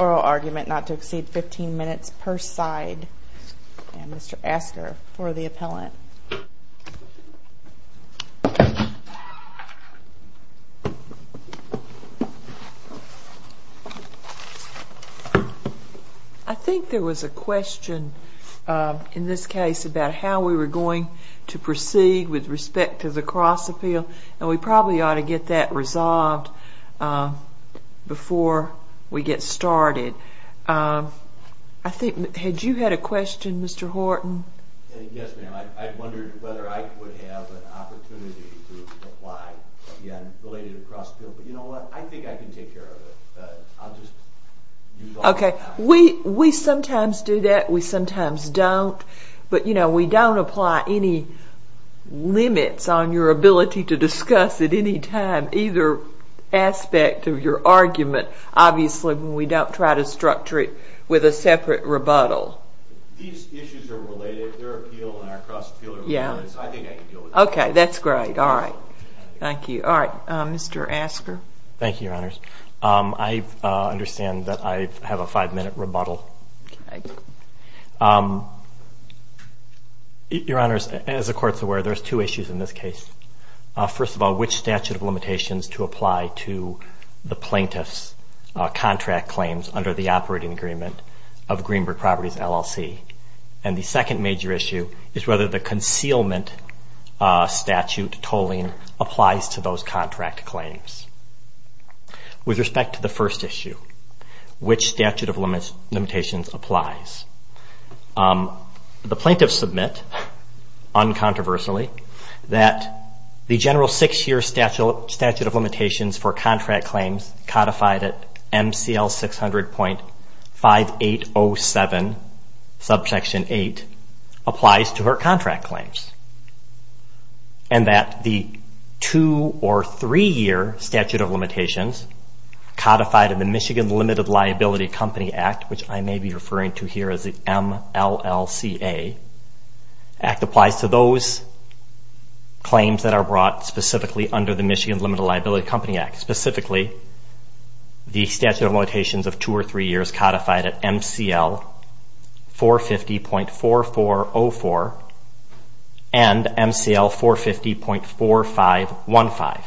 Oral argument not to exceed 15 minutes per side and Mr. Asker for the appellant. I think there was a question in this case about how we were going to proceed with respect to the cross appeal and we probably ought to get that resolved before we get started. Had you had a question Mr. Horton? Yes ma'am, I wondered whether I would have an opportunity to apply related to cross appeal, but you know what, I think I can take care of it. We sometimes do that, we sometimes don't, but you know we don't apply any limits on your ability to discuss at any time either aspect of your argument obviously when we don't try to structure it with a separate rebuttal. These issues are related, their appeal and our cross appeal, I think I can deal with that. Okay, that's great, alright. Thank you. Alright, Mr. Asker. Thank you, your honors. I understand that I have a five minute rebuttal. Okay. Your honors, as the court's aware, there's two issues in this case. First of all, which statute of limitations to apply to the plaintiff's contract claims under the operating agreement of Greenberg Properties LLC. And the second major issue is whether the concealment statute tolling applies to those contract claims. With respect to the first issue, which statute of limitations applies. The plaintiffs submit, uncontroversially, that the general six year statute of limitations for contract claims codified at MCL 600.5807, subsection 8, applies to her contract claims. And that the two or three year statute of limitations codified in the Michigan Limited Liability Company Act, which I may be referring to here as the MLLCA, act applies to those claims that are brought specifically under the Michigan Limited Liability Company Act. Specifically, the statute of limitations of two or three years codified at MCL 450.4404 and MCL 450.4515.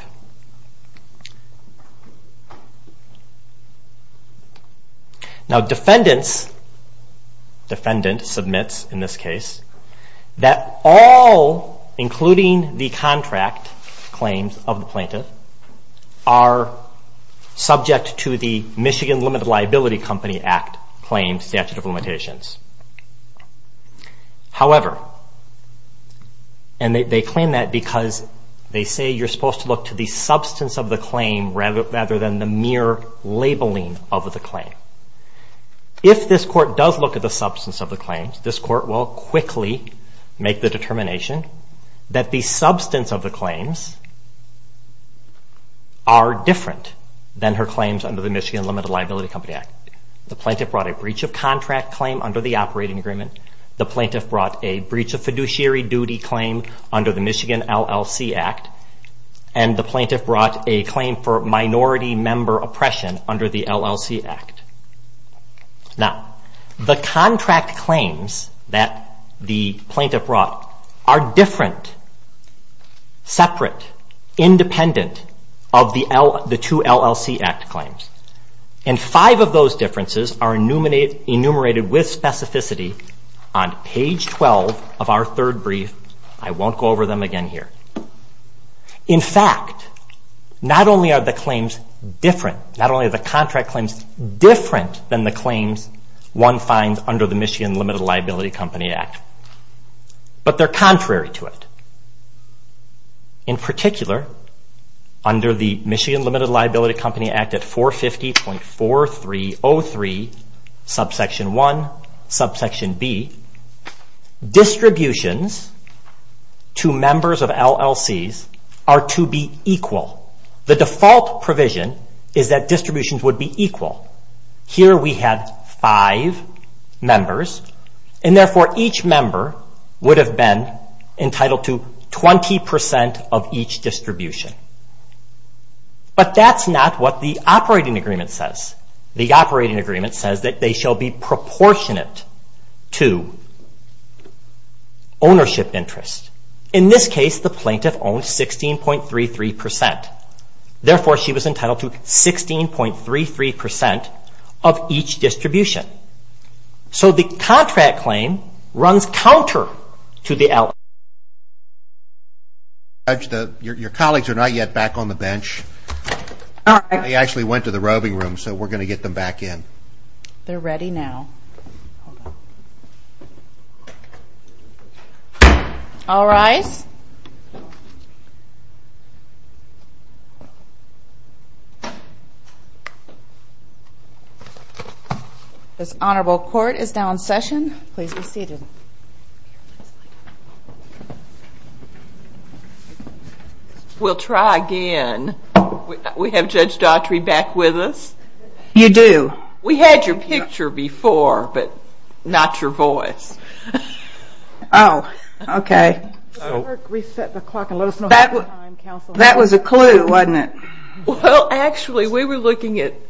Now defendants, defendant submits in this case, that all, including the contract claims of the plaintiff, are subject to the Michigan Limited Liability Company Act claims statute of limitations. However, and they claim that because they say you're supposed to look to the substance of the claim rather than the mere labeling of the claim. If this court does look at the substance of the claims, this court will quickly make the determination that the substance of the claims are different than her claims under the Michigan Limited Liability Company Act. The plaintiff brought a breach of contract claim under the operating agreement. The plaintiff brought a breach of fiduciary duty claim under the Michigan LLC Act. And the plaintiff brought a claim for minority member oppression under the LLC Act. Now, the contract claims that the plaintiff brought are different, separate, independent of the two LLC Act claims. And five of those differences are enumerated with specificity on page 12 of our third brief. I won't go over them again here. In fact, not only are the claims different, not only are the contract claims different than the claims one finds under the Michigan Limited Liability Company Act, but they're contrary to it. In particular, under the Michigan Limited Liability Company Act at 450.4303, subsection 1, subsection B, distributions to members of LLCs are to be equal. The default provision is that distributions would be equal. Here we have five members, and therefore each member would have been entitled to 20% of each distribution. But that's not what the operating agreement says. The operating agreement says that they shall be proportionate to ownership interest. In this case, the plaintiff owned 16.33%. Therefore, she was entitled to 16.33% of each distribution. So the contract claim runs counter to the LLC Act. Your colleagues are not yet back on the bench. They actually went to the roving room, so we're going to get them back in. They're ready now. All rise. This honorable court is now in session. Please be seated. We'll try again. We have Judge Daughtry back with us. You do. We had your picture before, but not your voice. Oh, okay. That was a clue, wasn't it? Well, actually, we were looking at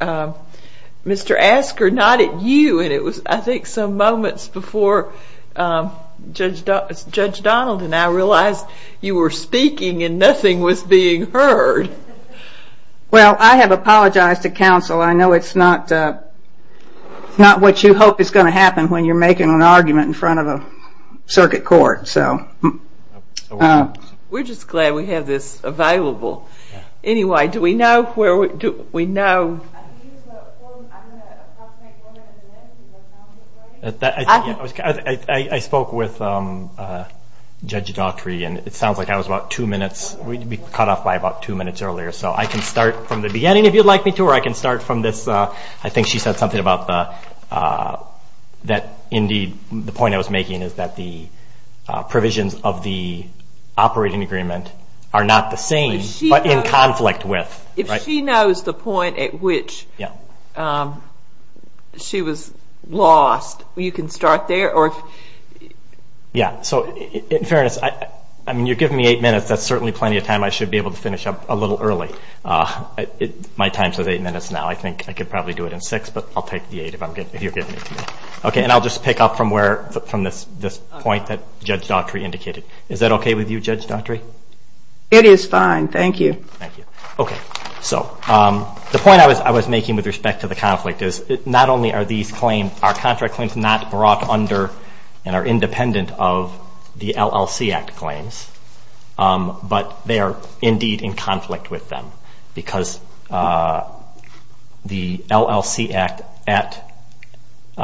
Mr. Asker, not at you, and it was, I think, some moments before Judge Donald and I realized you were speaking and nothing was being heard. Well, I have apologized to counsel. I know it's not what you hope is going to happen when you're making an argument in front of a circuit court. We're just glad we have this available. Anyway, do we know where we're at? I spoke with Judge Daughtry, and it sounds like I was about two minutes. We'd be cut off by about two minutes earlier, so I can start from the beginning if you'd like me to, or I can start from this. I think she said something about the point I was making, is that the provisions of the operating agreement are not the same, but in conflict with. If she knows the point at which she was lost, you can start there. Yeah, so in fairness, I mean, you're giving me eight minutes. That's certainly plenty of time. I should be able to finish up a little early. My time says eight minutes now. I think I could probably do it in six, but I'll take the eight if you're giving it to me. Okay, and I'll just pick up from this point that Judge Daughtry indicated. Is that okay with you, Judge Daughtry? It is fine. Thank you. Thank you. Okay, so the point I was making with respect to the conflict is not only are these claims, our contract claims, not brought under and are independent of the LLC Act claims, but they are indeed in conflict with them because the LLC Act at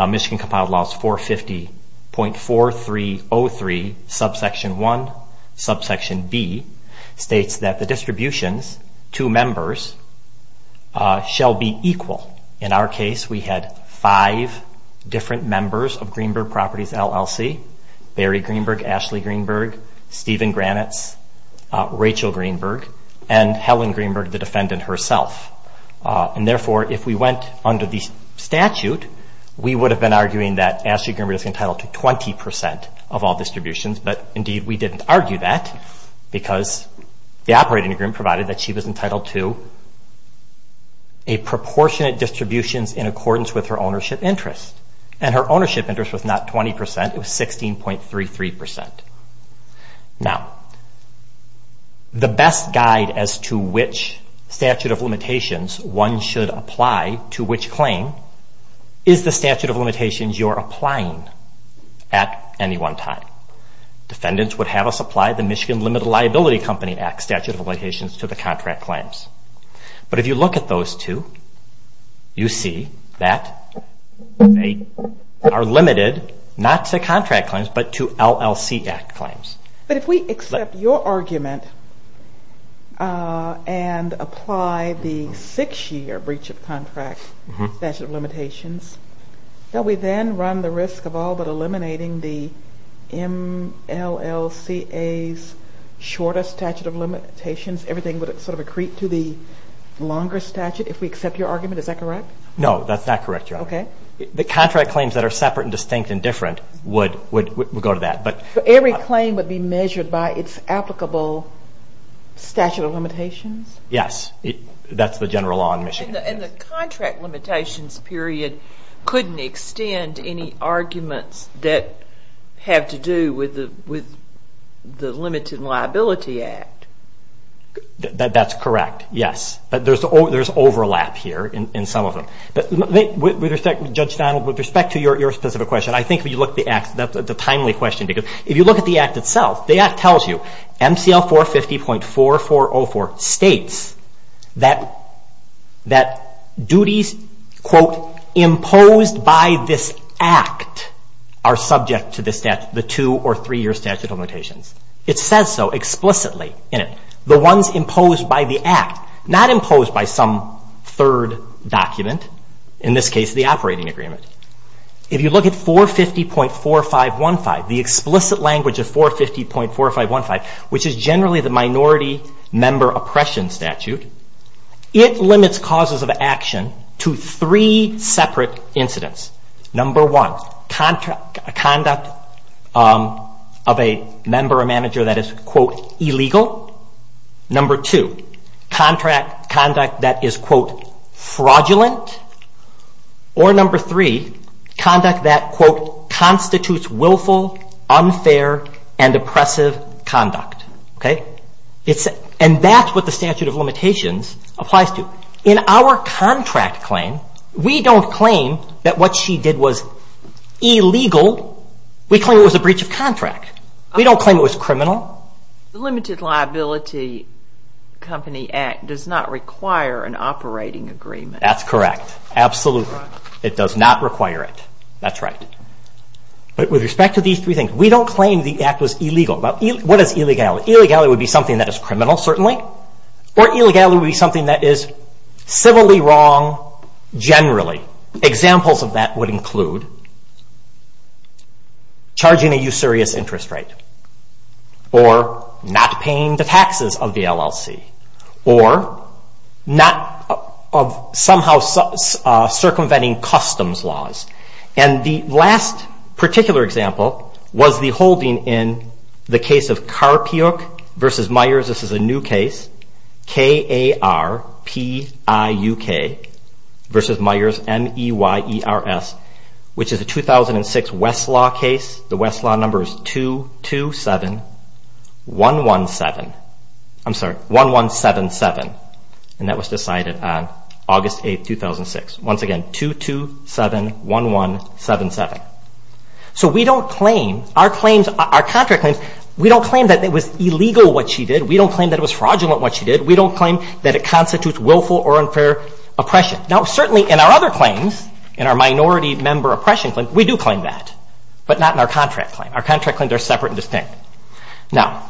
Michigan Compiled Laws 450.4303, subsection 1, subsection B, states that the distributions to members shall be equal. In our case, we had five different members of Greenberg Properties LLC, Barry Greenberg, Ashley Greenberg, Stephen Granitz, Rachel Greenberg, and Helen Greenberg, the defendant herself. And therefore, if we went under the statute, we would have been arguing that Ashley Greenberg is entitled to 20% of all distributions, but indeed we didn't argue that because the operating agreement provided that she was entitled to a proportionate distribution in accordance with her ownership interest. And her ownership interest was not 20%, it was 16.33%. Now, the best guide as to which statute of limitations one should apply to which claim is the statute of limitations you're applying at any one time. Defendants would have us apply the Michigan Limited Liability Company Act statute of limitations to the contract claims. But if you look at those two, you see that they are limited not to contract claims, but to LLC Act claims. But if we accept your argument and apply the six-year breach of contract statute of limitations, don't we then run the risk of all but eliminating the MLLCA's shorter statute of limitations? Everything would sort of accrete to the longer statute if we accept your argument? Is that correct? No, that's not correct, Your Honor. Okay. The contract claims that are separate and distinct and different would go to that. But every claim would be measured by its applicable statute of limitations? Yes. That's the general law in Michigan. And the contract limitations period couldn't extend any arguments that have to do with the Limited Liability Act. That's correct, yes. But there's overlap here in some of them. Judge Donald, with respect to your specific question, I think when you look at the act, that's a timely question. If you look at the act itself, the act tells you MCL 450.4404 states that duties, quote, imposed by this act are subject to the two or three-year statute of limitations. It says so explicitly in it. The ones imposed by the act, not imposed by some third document, in this case the operating agreement. If you look at 450.4515, the explicit language of 450.4515, which is generally the minority member oppression statute, it limits causes of action to three separate incidents. Number one, conduct of a member or manager that is, quote, illegal. Number two, conduct that is, quote, fraudulent. Or number three, conduct that, quote, constitutes willful, unfair, and oppressive conduct. And that's what the statute of limitations applies to. In our contract claim, we don't claim that what she did was illegal. We claim it was a breach of contract. We don't claim it was criminal. The Limited Liability Company Act does not require an operating agreement. That's correct. Absolutely. It does not require it. That's right. But with respect to these three things, we don't claim the act was illegal. What is illegal? Illegal would be something that is criminal, certainly, or illegal would be something that is civilly wrong generally. Examples of that would include charging a usurious interest rate or not paying the taxes of the LLC or somehow circumventing customs laws. And the last particular example was the holding in the case of Karpiuk v. Myers. This is a new case, K-A-R-P-I-U-K v. Myers, M-E-Y-E-R-S, which is a 2006 Westlaw case. The Westlaw number is 227117. I'm sorry, 1177. And that was decided on August 8, 2006. Once again, 2271177. So we don't claim, our contract claims, we don't claim that it was illegal what she did. We don't claim that it was fraudulent what she did. We don't claim that it constitutes willful or unfair oppression. Now, certainly in our other claims, in our minority member oppression claim, we do claim that, but not in our contract claim. Our contract claims are separate and distinct. Now,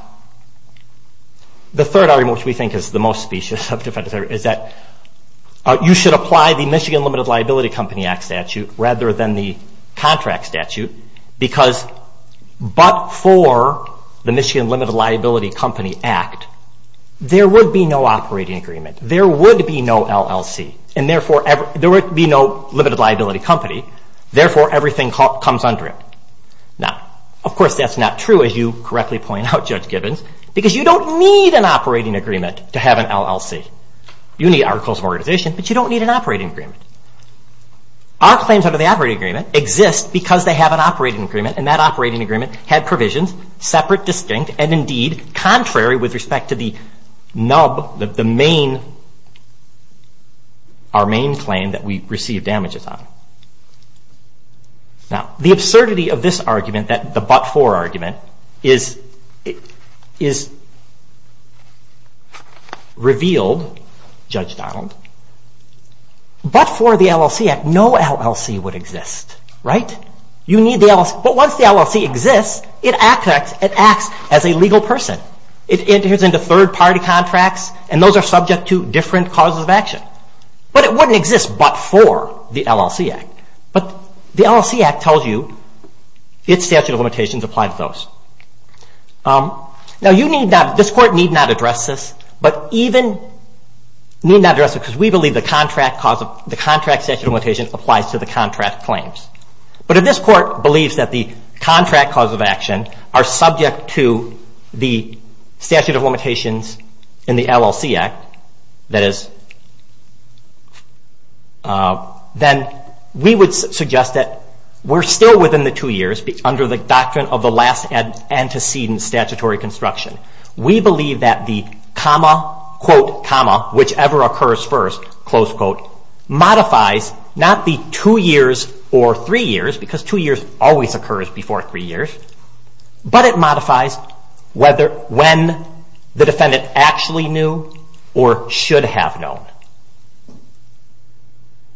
the third argument, which we think is the most specious of defense arguments, is that you should apply the Michigan Limited Liability Company Act statute rather than the contract statute, because but for the Michigan Limited Liability Company Act, there would be no operating agreement. There would be no LLC. There would be no Limited Liability Company. Therefore, everything comes under it. Now, of course, that's not true, as you correctly point out, Judge Gibbons, because you don't need an operating agreement to have an LLC. You need articles of organization, but you don't need an operating agreement. Our claims under the operating agreement exist because they have an operating agreement, and that operating agreement had provisions separate, distinct, and indeed contrary with respect to the NUB, our main claim that we receive damages on. Now, the absurdity of this argument, the but for argument, is revealed, Judge Donald. But for the LLC Act, no LLC would exist, right? But once the LLC exists, it acts as a legal person. It enters into third-party contracts, and those are subject to different causes of action. But it wouldn't exist but for the LLC Act. But the LLC Act tells you its statute of limitations apply to those. Now, this Court need not address this, but even need not address it because we believe the contract statute of limitations applies to the contract claims. But if this Court believes that the contract causes of action are subject to the statute of limitations in the LLC Act, that is, then we would suggest that we're still within the two years under the doctrine of the last antecedent statutory construction. We believe that the comma, quote, comma, whichever occurs first, close quote, modifies not the two years or three years, because two years always occurs before three years, but it modifies when the defendant actually knew or should have known.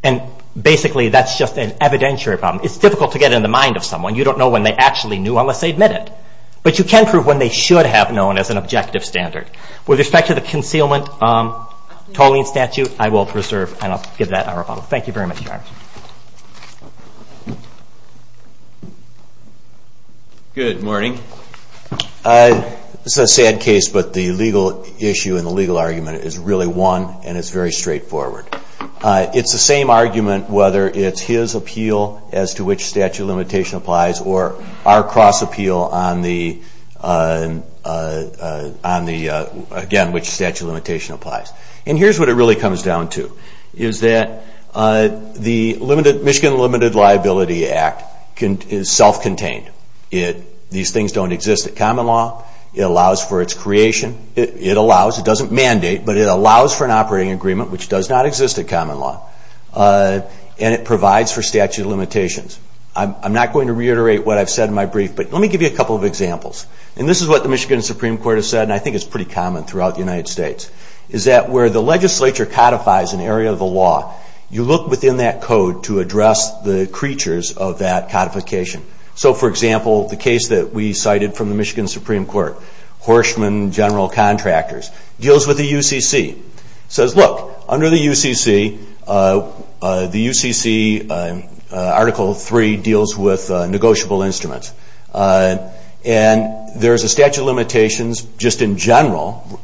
And basically, that's just an evidentiary problem. It's difficult to get in the mind of someone. You don't know when they actually knew unless they admit it. But you can prove when they should have known as an objective standard. With respect to the concealment tolling statute, I will preserve and I'll give that our final. Thank you very much, Your Honor. Good morning. This is a sad case, but the legal issue and the legal argument is really one, and it's very straightforward. It's the same argument whether it's his appeal as to which statute of limitation applies or our cross-appeal on the, again, which statute of limitation applies. And here's what it really comes down to, is that the Michigan Limited Liability Act is self-contained. These things don't exist at common law. It allows for its creation. It allows. It doesn't mandate, but it allows for an operating agreement, which does not exist at common law. And it provides for statute of limitations. I'm not going to reiterate what I've said in my brief, but let me give you a couple of examples. And this is what the Michigan Supreme Court has said, and I think it's pretty common throughout the United States, is that where the legislature codifies an area of the law, you look within that code to address the creatures of that codification. So, for example, the case that we cited from the Michigan Supreme Court, Horschman General Contractors, deals with the UCC. It says, look, under the UCC, the UCC Article 3 deals with negotiable instruments. And there's a statute of limitations just in general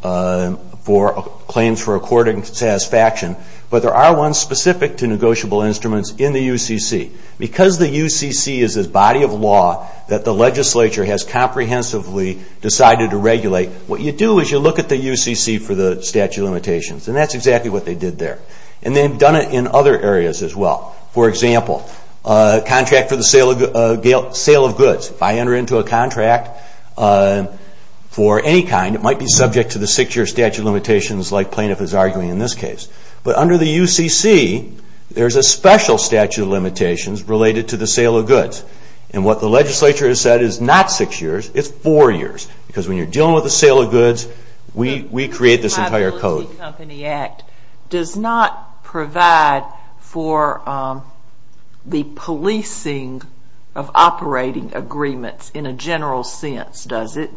for claims for according satisfaction, but there are ones specific to negotiable instruments in the UCC. Because the UCC is a body of law that the legislature has comprehensively decided to regulate, what you do is you look at the UCC for the statute of limitations. And that's exactly what they did there. And they've done it in other areas as well. For example, contract for the sale of goods. If I enter into a contract for any kind, it might be subject to the six-year statute of limitations like plaintiff is arguing in this case. But under the UCC, there's a special statute of limitations related to the sale of goods. And what the legislature has said is not six years, it's four years. Because when you're dealing with the sale of goods, we create this entire code. The Mobility Company Act does not provide for the policing of operating agreements in a general sense, does it?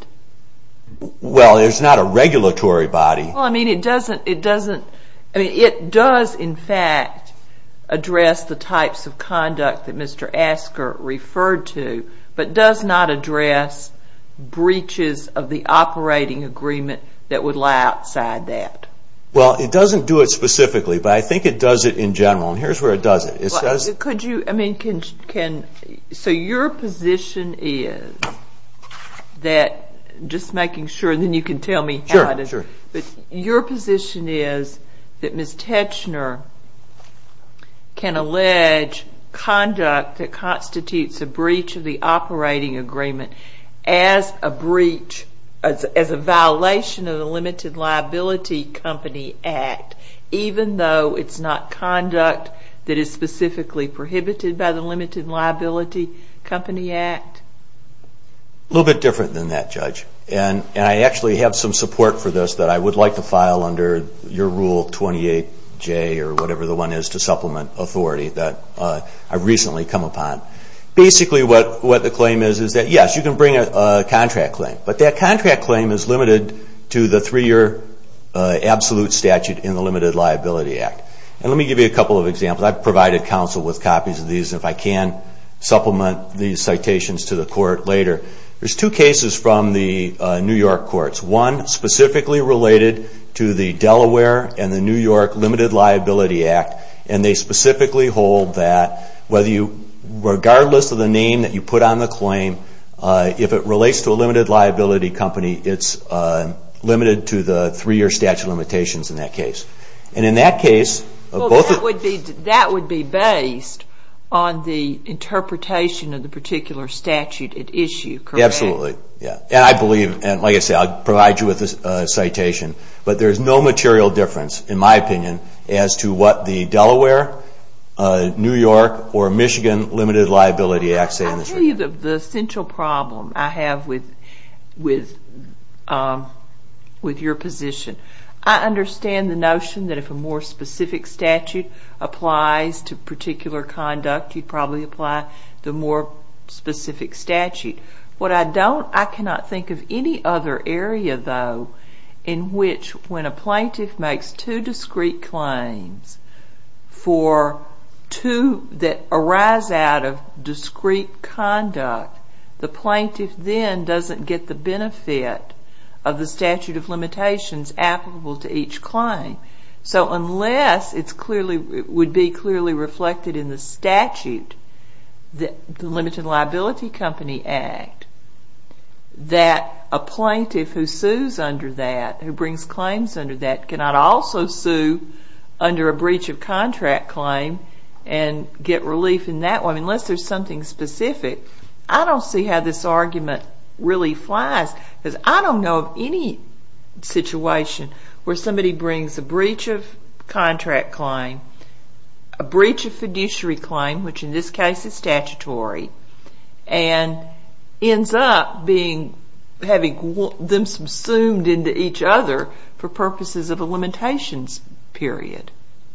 Well, there's not a regulatory body. Well, I mean, it does in fact address the types of conduct that Mr. Asker referred to, but does not address breaches of the operating agreement that would lie outside that. Well, it doesn't do it specifically, but I think it does it in general. And here's where it does it. Could you, I mean, can, so your position is that, just making sure and then you can tell me how it is. Sure, sure. Your position is that Ms. Teichner can allege conduct that constitutes a breach of the operating agreement as a breach, as a violation of the Limited Liability Company Act, even though it's not conduct that is specifically prohibited by the Limited Liability Company Act? A little bit different than that, Judge. And I actually have some support for this that I would like to file under your Rule 28J or whatever the one is to supplement authority that I recently come upon. Basically, what the claim is, is that yes, you can bring a contract claim, but that contract claim is limited to the three-year absolute statute in the Limited Liability Act. And let me give you a couple of examples. I've provided counsel with copies of these, and if I can supplement these citations to the court later. There's two cases from the New York courts. One specifically related to the Delaware and the New York Limited Liability Act, and they specifically hold that whether you, regardless of the name that you put on the claim, if it relates to a limited liability company, it's limited to the three-year statute limitations in that case. And in that case... Well, that would be based on the interpretation of the particular statute at issue, correct? Absolutely, yeah. And I believe, and like I said, I'll provide you with a citation, but there's no material difference, in my opinion, as to what the Delaware, New York, or Michigan Limited Liability Act say in this regard. Let me give you the central problem I have with your position. I understand the notion that if a more specific statute applies to particular conduct, you'd probably apply the more specific statute. What I don't, I cannot think of any other area, though, in which when a plaintiff makes two discrete claims for two that arise out of discrete conduct, the plaintiff then doesn't get the benefit of the statute of limitations applicable to each claim. So unless it would be clearly reflected in the statute, the Limited Liability Company Act, that a plaintiff who sues under that, who brings claims under that, cannot also sue under a breach of contract claim and get relief in that one, unless there's something specific, I don't see how this argument really flies because I don't know of any situation where somebody brings a breach of contract claim, a breach of fiduciary claim, which in this case is statutory, and ends up having them subsumed into each other for purposes of a limitations period.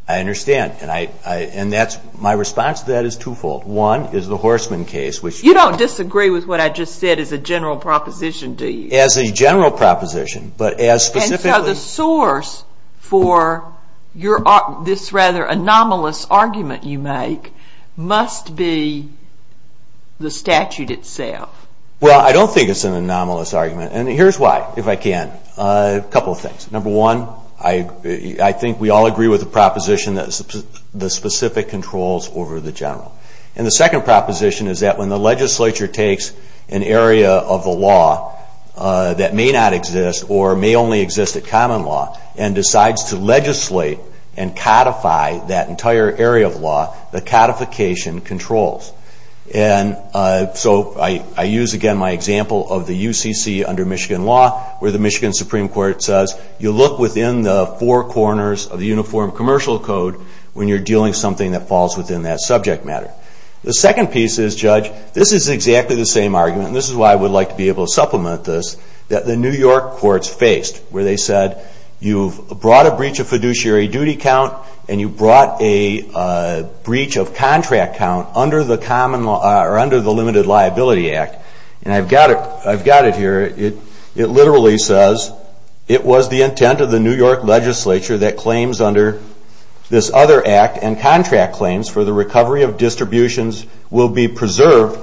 I understand, and my response to that is twofold. One is the Horstman case, which... You don't disagree with what I just said as a general proposition, do you? As a general proposition, but as specifically... And so the source for this rather anomalous argument you make must be the statute itself. Well, I don't think it's an anomalous argument, and here's why, if I can. A couple of things. Number one, I think we all agree with the proposition that the specific controls over the general. And the second proposition is that when the legislature takes an area of the law that may not exist or may only exist at common law and decides to legislate and codify that entire area of law, the codification controls. And so I use again my example of the UCC under Michigan law, where the Michigan Supreme Court says you look within the four corners of the Uniform Commercial Code when you're dealing with something that falls within that subject matter. The second piece is, Judge, this is exactly the same argument, and this is why I would like to be able to supplement this, that the New York courts faced, where they said you've brought a breach of fiduciary duty count and you've brought a breach of contract count under the Limited Liability Act. And I've got it here. It literally says it was the intent of the New York legislature that claims under this other act and contract claims for the recovery of distributions will be preserved,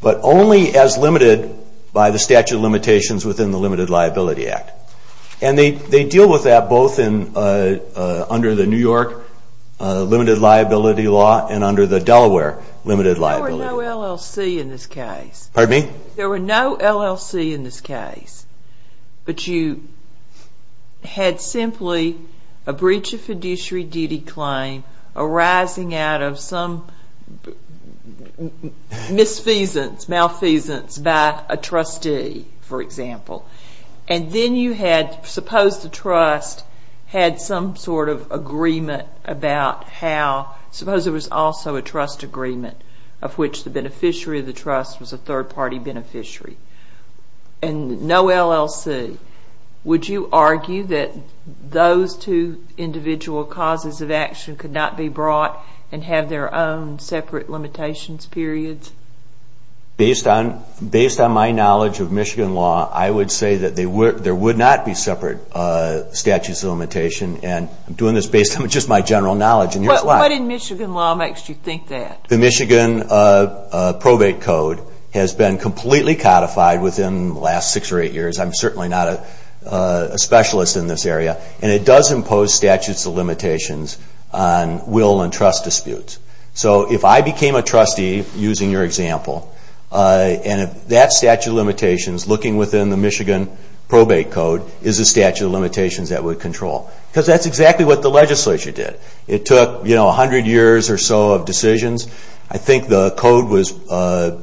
but only as limited by the statute of limitations within the Limited Liability Act. And they deal with that both under the New York Limited Liability Law and under the Delaware Limited Liability Law. There were no LLC in this case. Pardon me? There were no LLC in this case, but you had simply a breach of fiduciary duty claim arising out of some misfeasance, malfeasance by a trustee, for example. And then you had, suppose the trust had some sort of agreement about how, suppose there was also a trust agreement of which the beneficiary of the trust was a third-party beneficiary, and no LLC. Would you argue that those two individual causes of action could not be brought and have their own separate limitations periods? Based on my knowledge of Michigan law, I would say that there would not be separate statutes of limitation. And I'm doing this based on just my general knowledge, and here's why. What in Michigan law makes you think that? The Michigan probate code has been completely codified within the last six or eight years. I'm certainly not a specialist in this area. And it does impose statutes of limitations on will and trust disputes. So if I became a trustee, using your example, and that statute of limitations, looking within the Michigan probate code, is a statute of limitations that would control. Because that's exactly what the legislature did. It took a hundred years or so of decisions. I think the code was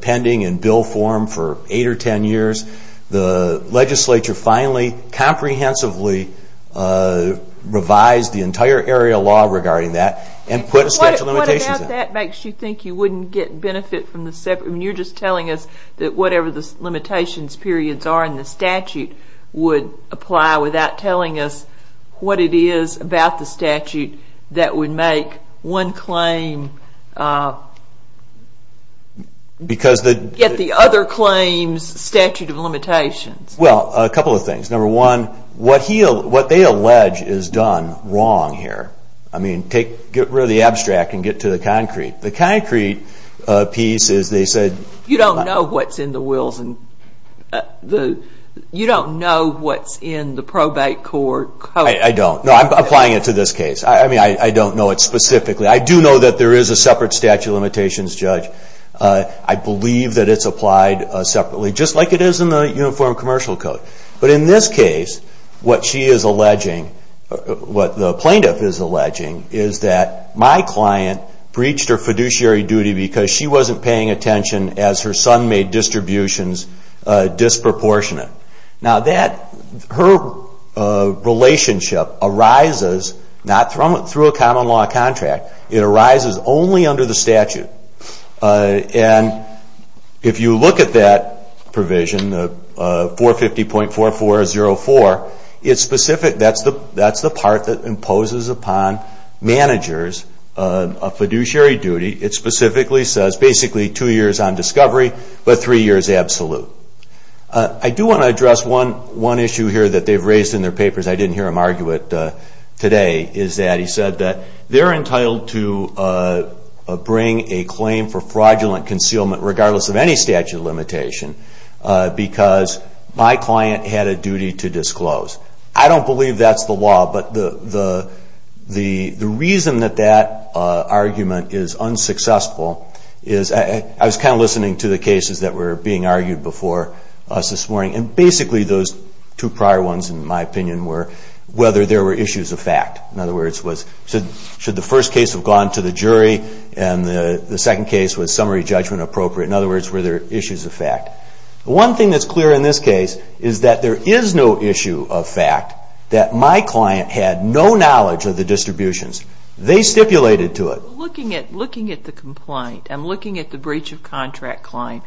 pending in bill form for eight or ten years. The legislature finally comprehensively revised the entire area of law regarding that and put a statute of limitations in it. Because that makes you think you wouldn't get benefit from the separate. You're just telling us that whatever the limitations periods are in the statute would apply without telling us what it is about the statute that would make one claim get the other claim's statute of limitations. Well, a couple of things. Number one, what they allege is done wrong here. I mean, get rid of the abstract and get to the concrete. The concrete piece is they said. You don't know what's in the wills. You don't know what's in the probate court. I don't. No, I'm applying it to this case. I mean, I don't know it specifically. I do know that there is a separate statute of limitations, Judge. I believe that it's applied separately, just like it is in the uniform commercial code. But in this case, what the plaintiff is alleging is that my client breached her fiduciary duty because she wasn't paying attention as her son made distributions disproportionate. Now, her relationship arises not through a common law contract. It arises only under the statute. And if you look at that provision, 450.4404, it's specific. That's the part that imposes upon managers a fiduciary duty. It specifically says basically two years on discovery but three years absolute. I do want to address one issue here that they've raised in their papers. I didn't hear them argue it today. He said that they're entitled to bring a claim for fraudulent concealment, regardless of any statute of limitation, because my client had a duty to disclose. I don't believe that's the law. But the reason that that argument is unsuccessful is I was kind of listening to the cases that were being argued before us this morning. And basically those two prior ones, in my opinion, were whether there were issues of fact. In other words, should the first case have gone to the jury and the second case was summary judgment appropriate? In other words, were there issues of fact? One thing that's clear in this case is that there is no issue of fact that my client had no knowledge of the distributions. They stipulated to it. Looking at the complaint, I'm looking at the breach of contract claim.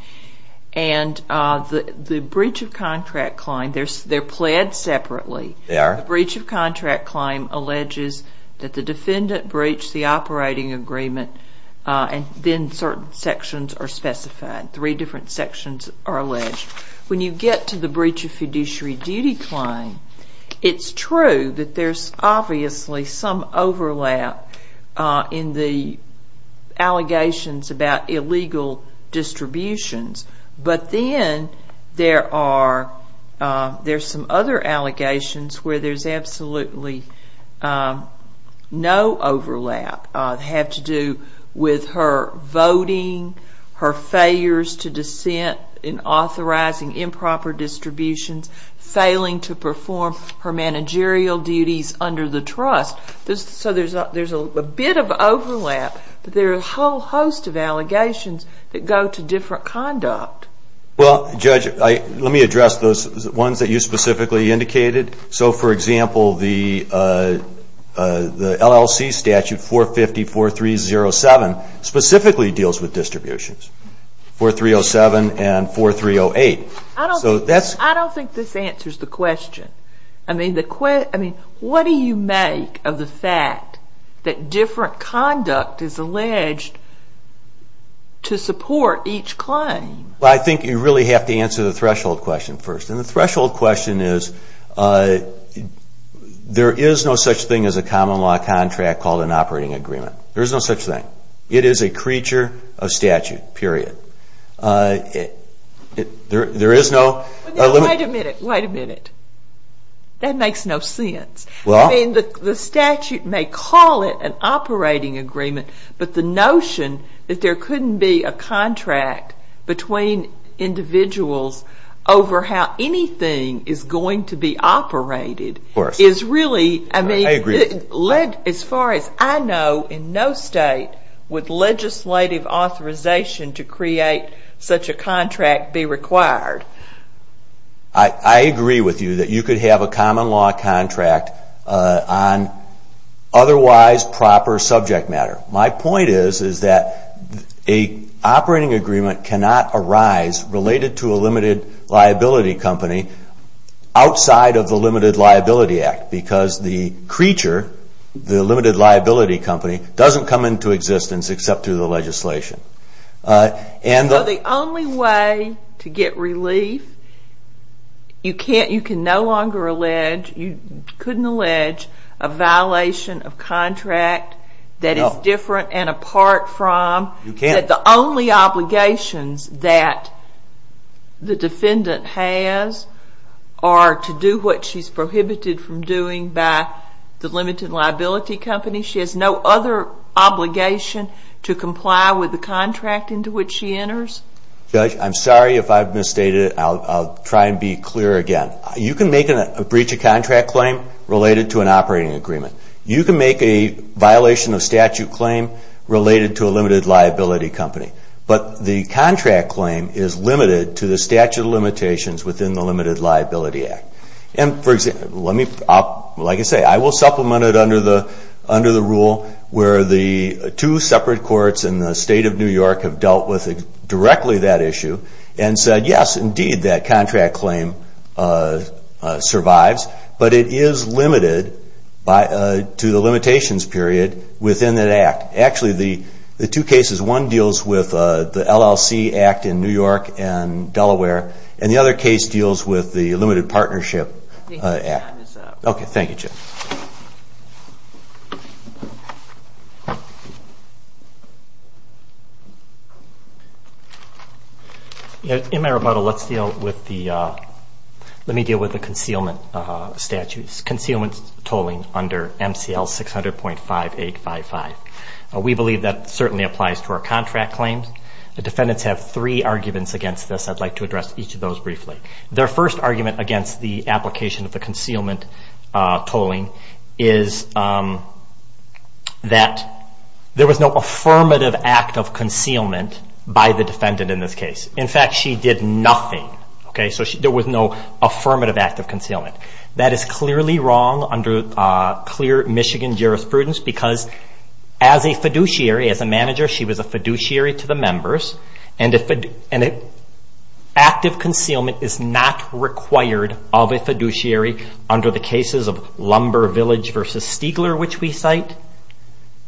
And the breach of contract claim, they're pled separately. The breach of contract claim alleges that the defendant breached the operating agreement and then certain sections are specified. Three different sections are alleged. When you get to the breach of fiduciary duty claim, it's true that there's obviously some overlap in the allegations about illegal distributions. But then there are some other allegations where there's absolutely no overlap. They have to do with her voting, her failures to dissent in authorizing improper distributions, failing to perform her managerial duties under the trust. So there's a bit of overlap, but there are a whole host of allegations that go to different conduct. Well, Judge, let me address those ones that you specifically indicated. So, for example, the LLC statute 450-4307 specifically deals with distributions, 4307 and 4308. I don't think this answers the question. I mean, what do you make of the fact that different conduct is alleged to support each claim? Well, I think you really have to answer the threshold question first. And the threshold question is there is no such thing as a common law contract called an operating agreement. There is no such thing. It is a creature of statute, period. Wait a minute. Wait a minute. That makes no sense. I mean, the statute may call it an operating agreement, but the notion that there couldn't be a contract between individuals over how anything is going to be operated is really, I mean, as far as I know, in no state would legislative authorization to create such a contract be required. I agree with you that you could have a common law contract on otherwise proper subject matter. My point is that an operating agreement cannot arise related to a limited liability company outside of the Limited Liability Act because the creature, the Limited Liability Company, doesn't come into existence except through the legislation. So the only way to get relief, you can no longer allege, you couldn't allege a violation of contract that is different and apart from, that the only obligations that the defendant has are to do what she's prohibited from doing by the Limited Liability Company. She has no other obligation to comply with the contract into which she enters. Judge, I'm sorry if I've misstated it. I'll try and be clear again. You can make a breach of contract claim related to an operating agreement. You can make a violation of statute claim related to a limited liability company, but the contract claim is limited to the statute of limitations within the Limited Liability Act. And, for example, let me, like I say, I will supplement it under the rule where the two separate courts in the state of New York have dealt with directly that issue and said, yes, indeed, that contract claim survives, but it is limited to the limitations period within that act. Actually, the two cases, one deals with the LLC Act in New York and Delaware, and the other case deals with the Limited Partnership Act. Okay, thank you, Judge. In my rebuttal, let's deal with the, let me deal with the concealment statutes, concealment tolling under MCL 600.5855. We believe that certainly applies to our contract claims. The defendants have three arguments against this. I'd like to address each of those briefly. Their first argument against the application of the concealment tolling is that there was no affirmative act of concealment by the defendant in this case. In fact, she did nothing. Okay, so there was no affirmative act of concealment. That is clearly wrong under clear Michigan jurisprudence because as a fiduciary, as a manager, she was a fiduciary to the members, and active concealment is not required of a fiduciary under the cases of Lumber Village v. Stiegler, which we cite,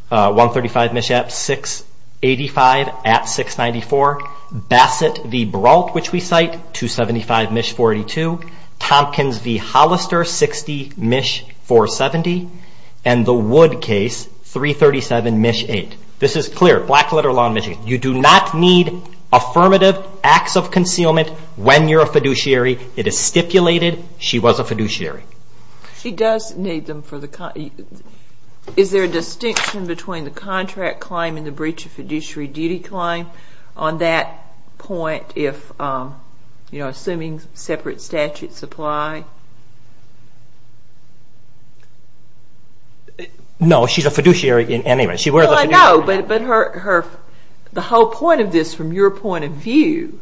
135 MISH at 685 at 694, Bassett v. Brault, which we cite, 275 MISH 42, Tompkins v. Hollister, 60 MISH 470, and the Wood case, 337 MISH 8. This is clear, black letter law in Michigan. You do not need affirmative acts of concealment when you're a fiduciary. It is stipulated she was a fiduciary. She does need them for the, is there a distinction between the contract claim and the breach of fiduciary duty claim? On that point, if, you know, assuming separate statutes apply. No, she's a fiduciary in any way. Well, I know, but her, the whole point of this from your point of view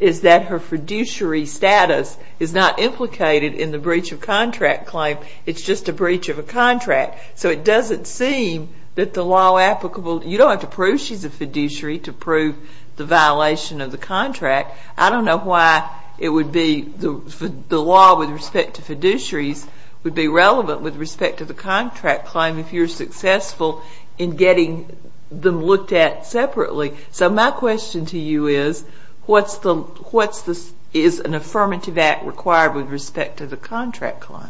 is that her fiduciary status is not implicated in the breach of contract claim. It's just a breach of a contract. So it doesn't seem that the law applicable, you don't have to prove she's a fiduciary to prove the violation of the contract. I don't know why it would be the law with respect to fiduciaries would be relevant with respect to the contract claim if you're successful in getting them looked at separately. So my question to you is, what's the, is an affirmative act required with respect to the contract claim?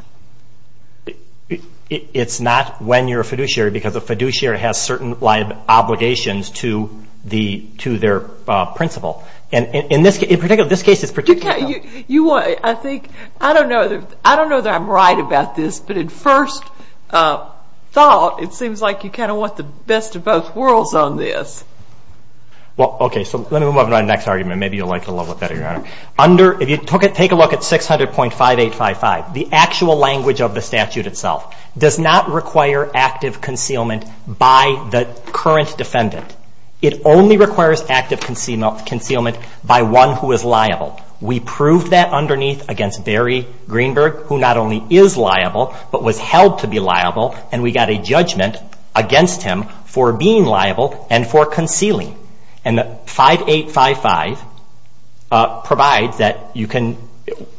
It's not when you're a fiduciary because a fiduciary has certain obligations to their principal. And in this case, in particular, this case is particular. You want, I think, I don't know that I'm right about this, but at first thought it seems like you kind of want the best of both worlds on this. Well, okay, so let me move on to my next argument. Maybe you'll like it a little better, Your Honor. Under, if you took it, take a look at 600.5855. The actual language of the statute itself does not require active concealment by the current defendant. It only requires active concealment by one who is liable. We proved that underneath against Barry Greenberg, who not only is liable but was held to be liable, and we got a judgment against him for being liable and for concealing. And the 5855 provides that you can,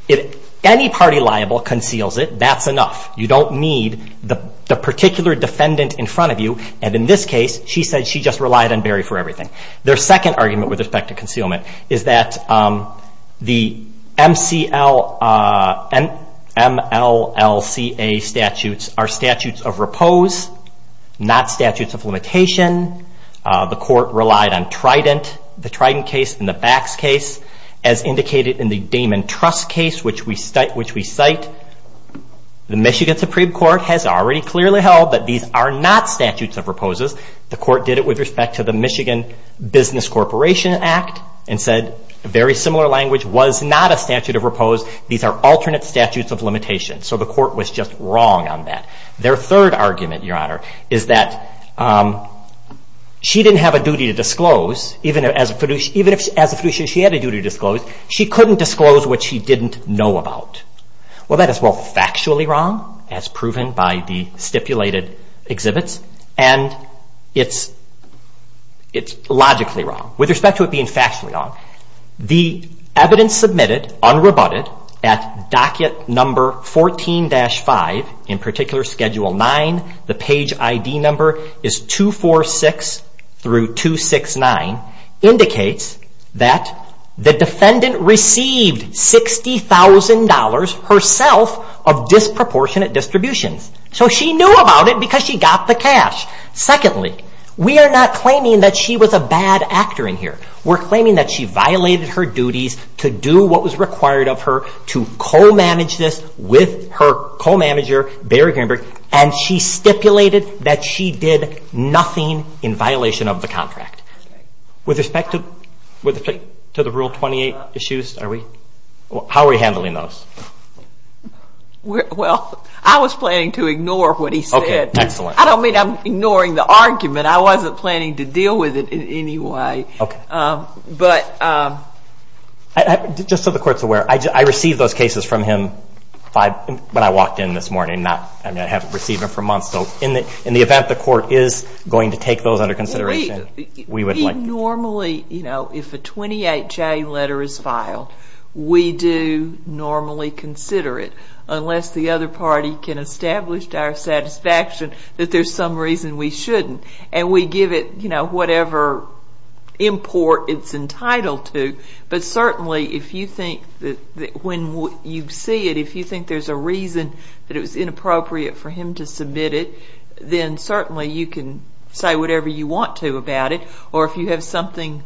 if any party liable conceals it, that's enough. You don't need the particular defendant in front of you, and in this case she said she just relied on Barry for everything. Their second argument with respect to concealment is that the MLCA statutes are statutes of repose, not statutes of limitation. The court relied on Trident, the Trident case and the Bax case, as indicated in the Damon Trust case, which we cite. The Michigan Supreme Court has already clearly held that these are not statutes of reposes. The court did it with respect to the Michigan Business Corporation Act and said a very similar language was not a statute of repose. These are alternate statutes of limitation. So the court was just wrong on that. Their third argument, Your Honor, is that she didn't have a duty to disclose, even if as a fiduciary she had a duty to disclose, she couldn't disclose what she didn't know about. Well, that is both factually wrong, as proven by the stipulated exhibits, and it's logically wrong with respect to it being factually wrong. The evidence submitted, unrebutted, at docket number 14-5, in particular schedule 9, the page ID number is 246 through 269, indicates that the defendant received $60,000 herself of disproportionate distributions. So she knew about it because she got the cash. Secondly, we are not claiming that she was a bad actor in here. We're claiming that she violated her duties to do what was required of her to co-manage this with her co-manager, Barry Greenberg, and she stipulated that she did nothing in violation of the contract. With respect to the Rule 28 issues, how are we handling those? Well, I was planning to ignore what he said. I don't mean I'm ignoring the argument. I wasn't planning to deal with it in any way. Just so the Court's aware, I received those cases from him when I walked in this morning. I haven't received them for months, so in the event the Court is going to take those under consideration, we would like to. Normally, if a 28-J letter is filed, we do normally consider it, unless the other party can establish to our satisfaction that there's some reason we shouldn't, and we give it whatever import it's entitled to. But certainly, when you see it, if you think there's a reason that it was inappropriate for him to submit it, then certainly you can say whatever you want to about it. Or if you have something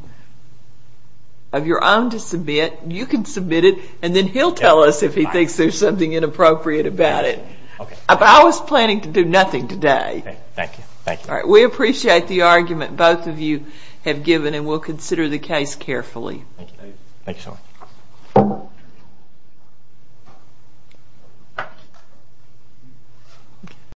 of your own to submit, you can submit it, and then he'll tell us if he thinks there's something inappropriate about it. But I was planning to do nothing today. We appreciate the argument both of you have given, and we'll consider the case carefully.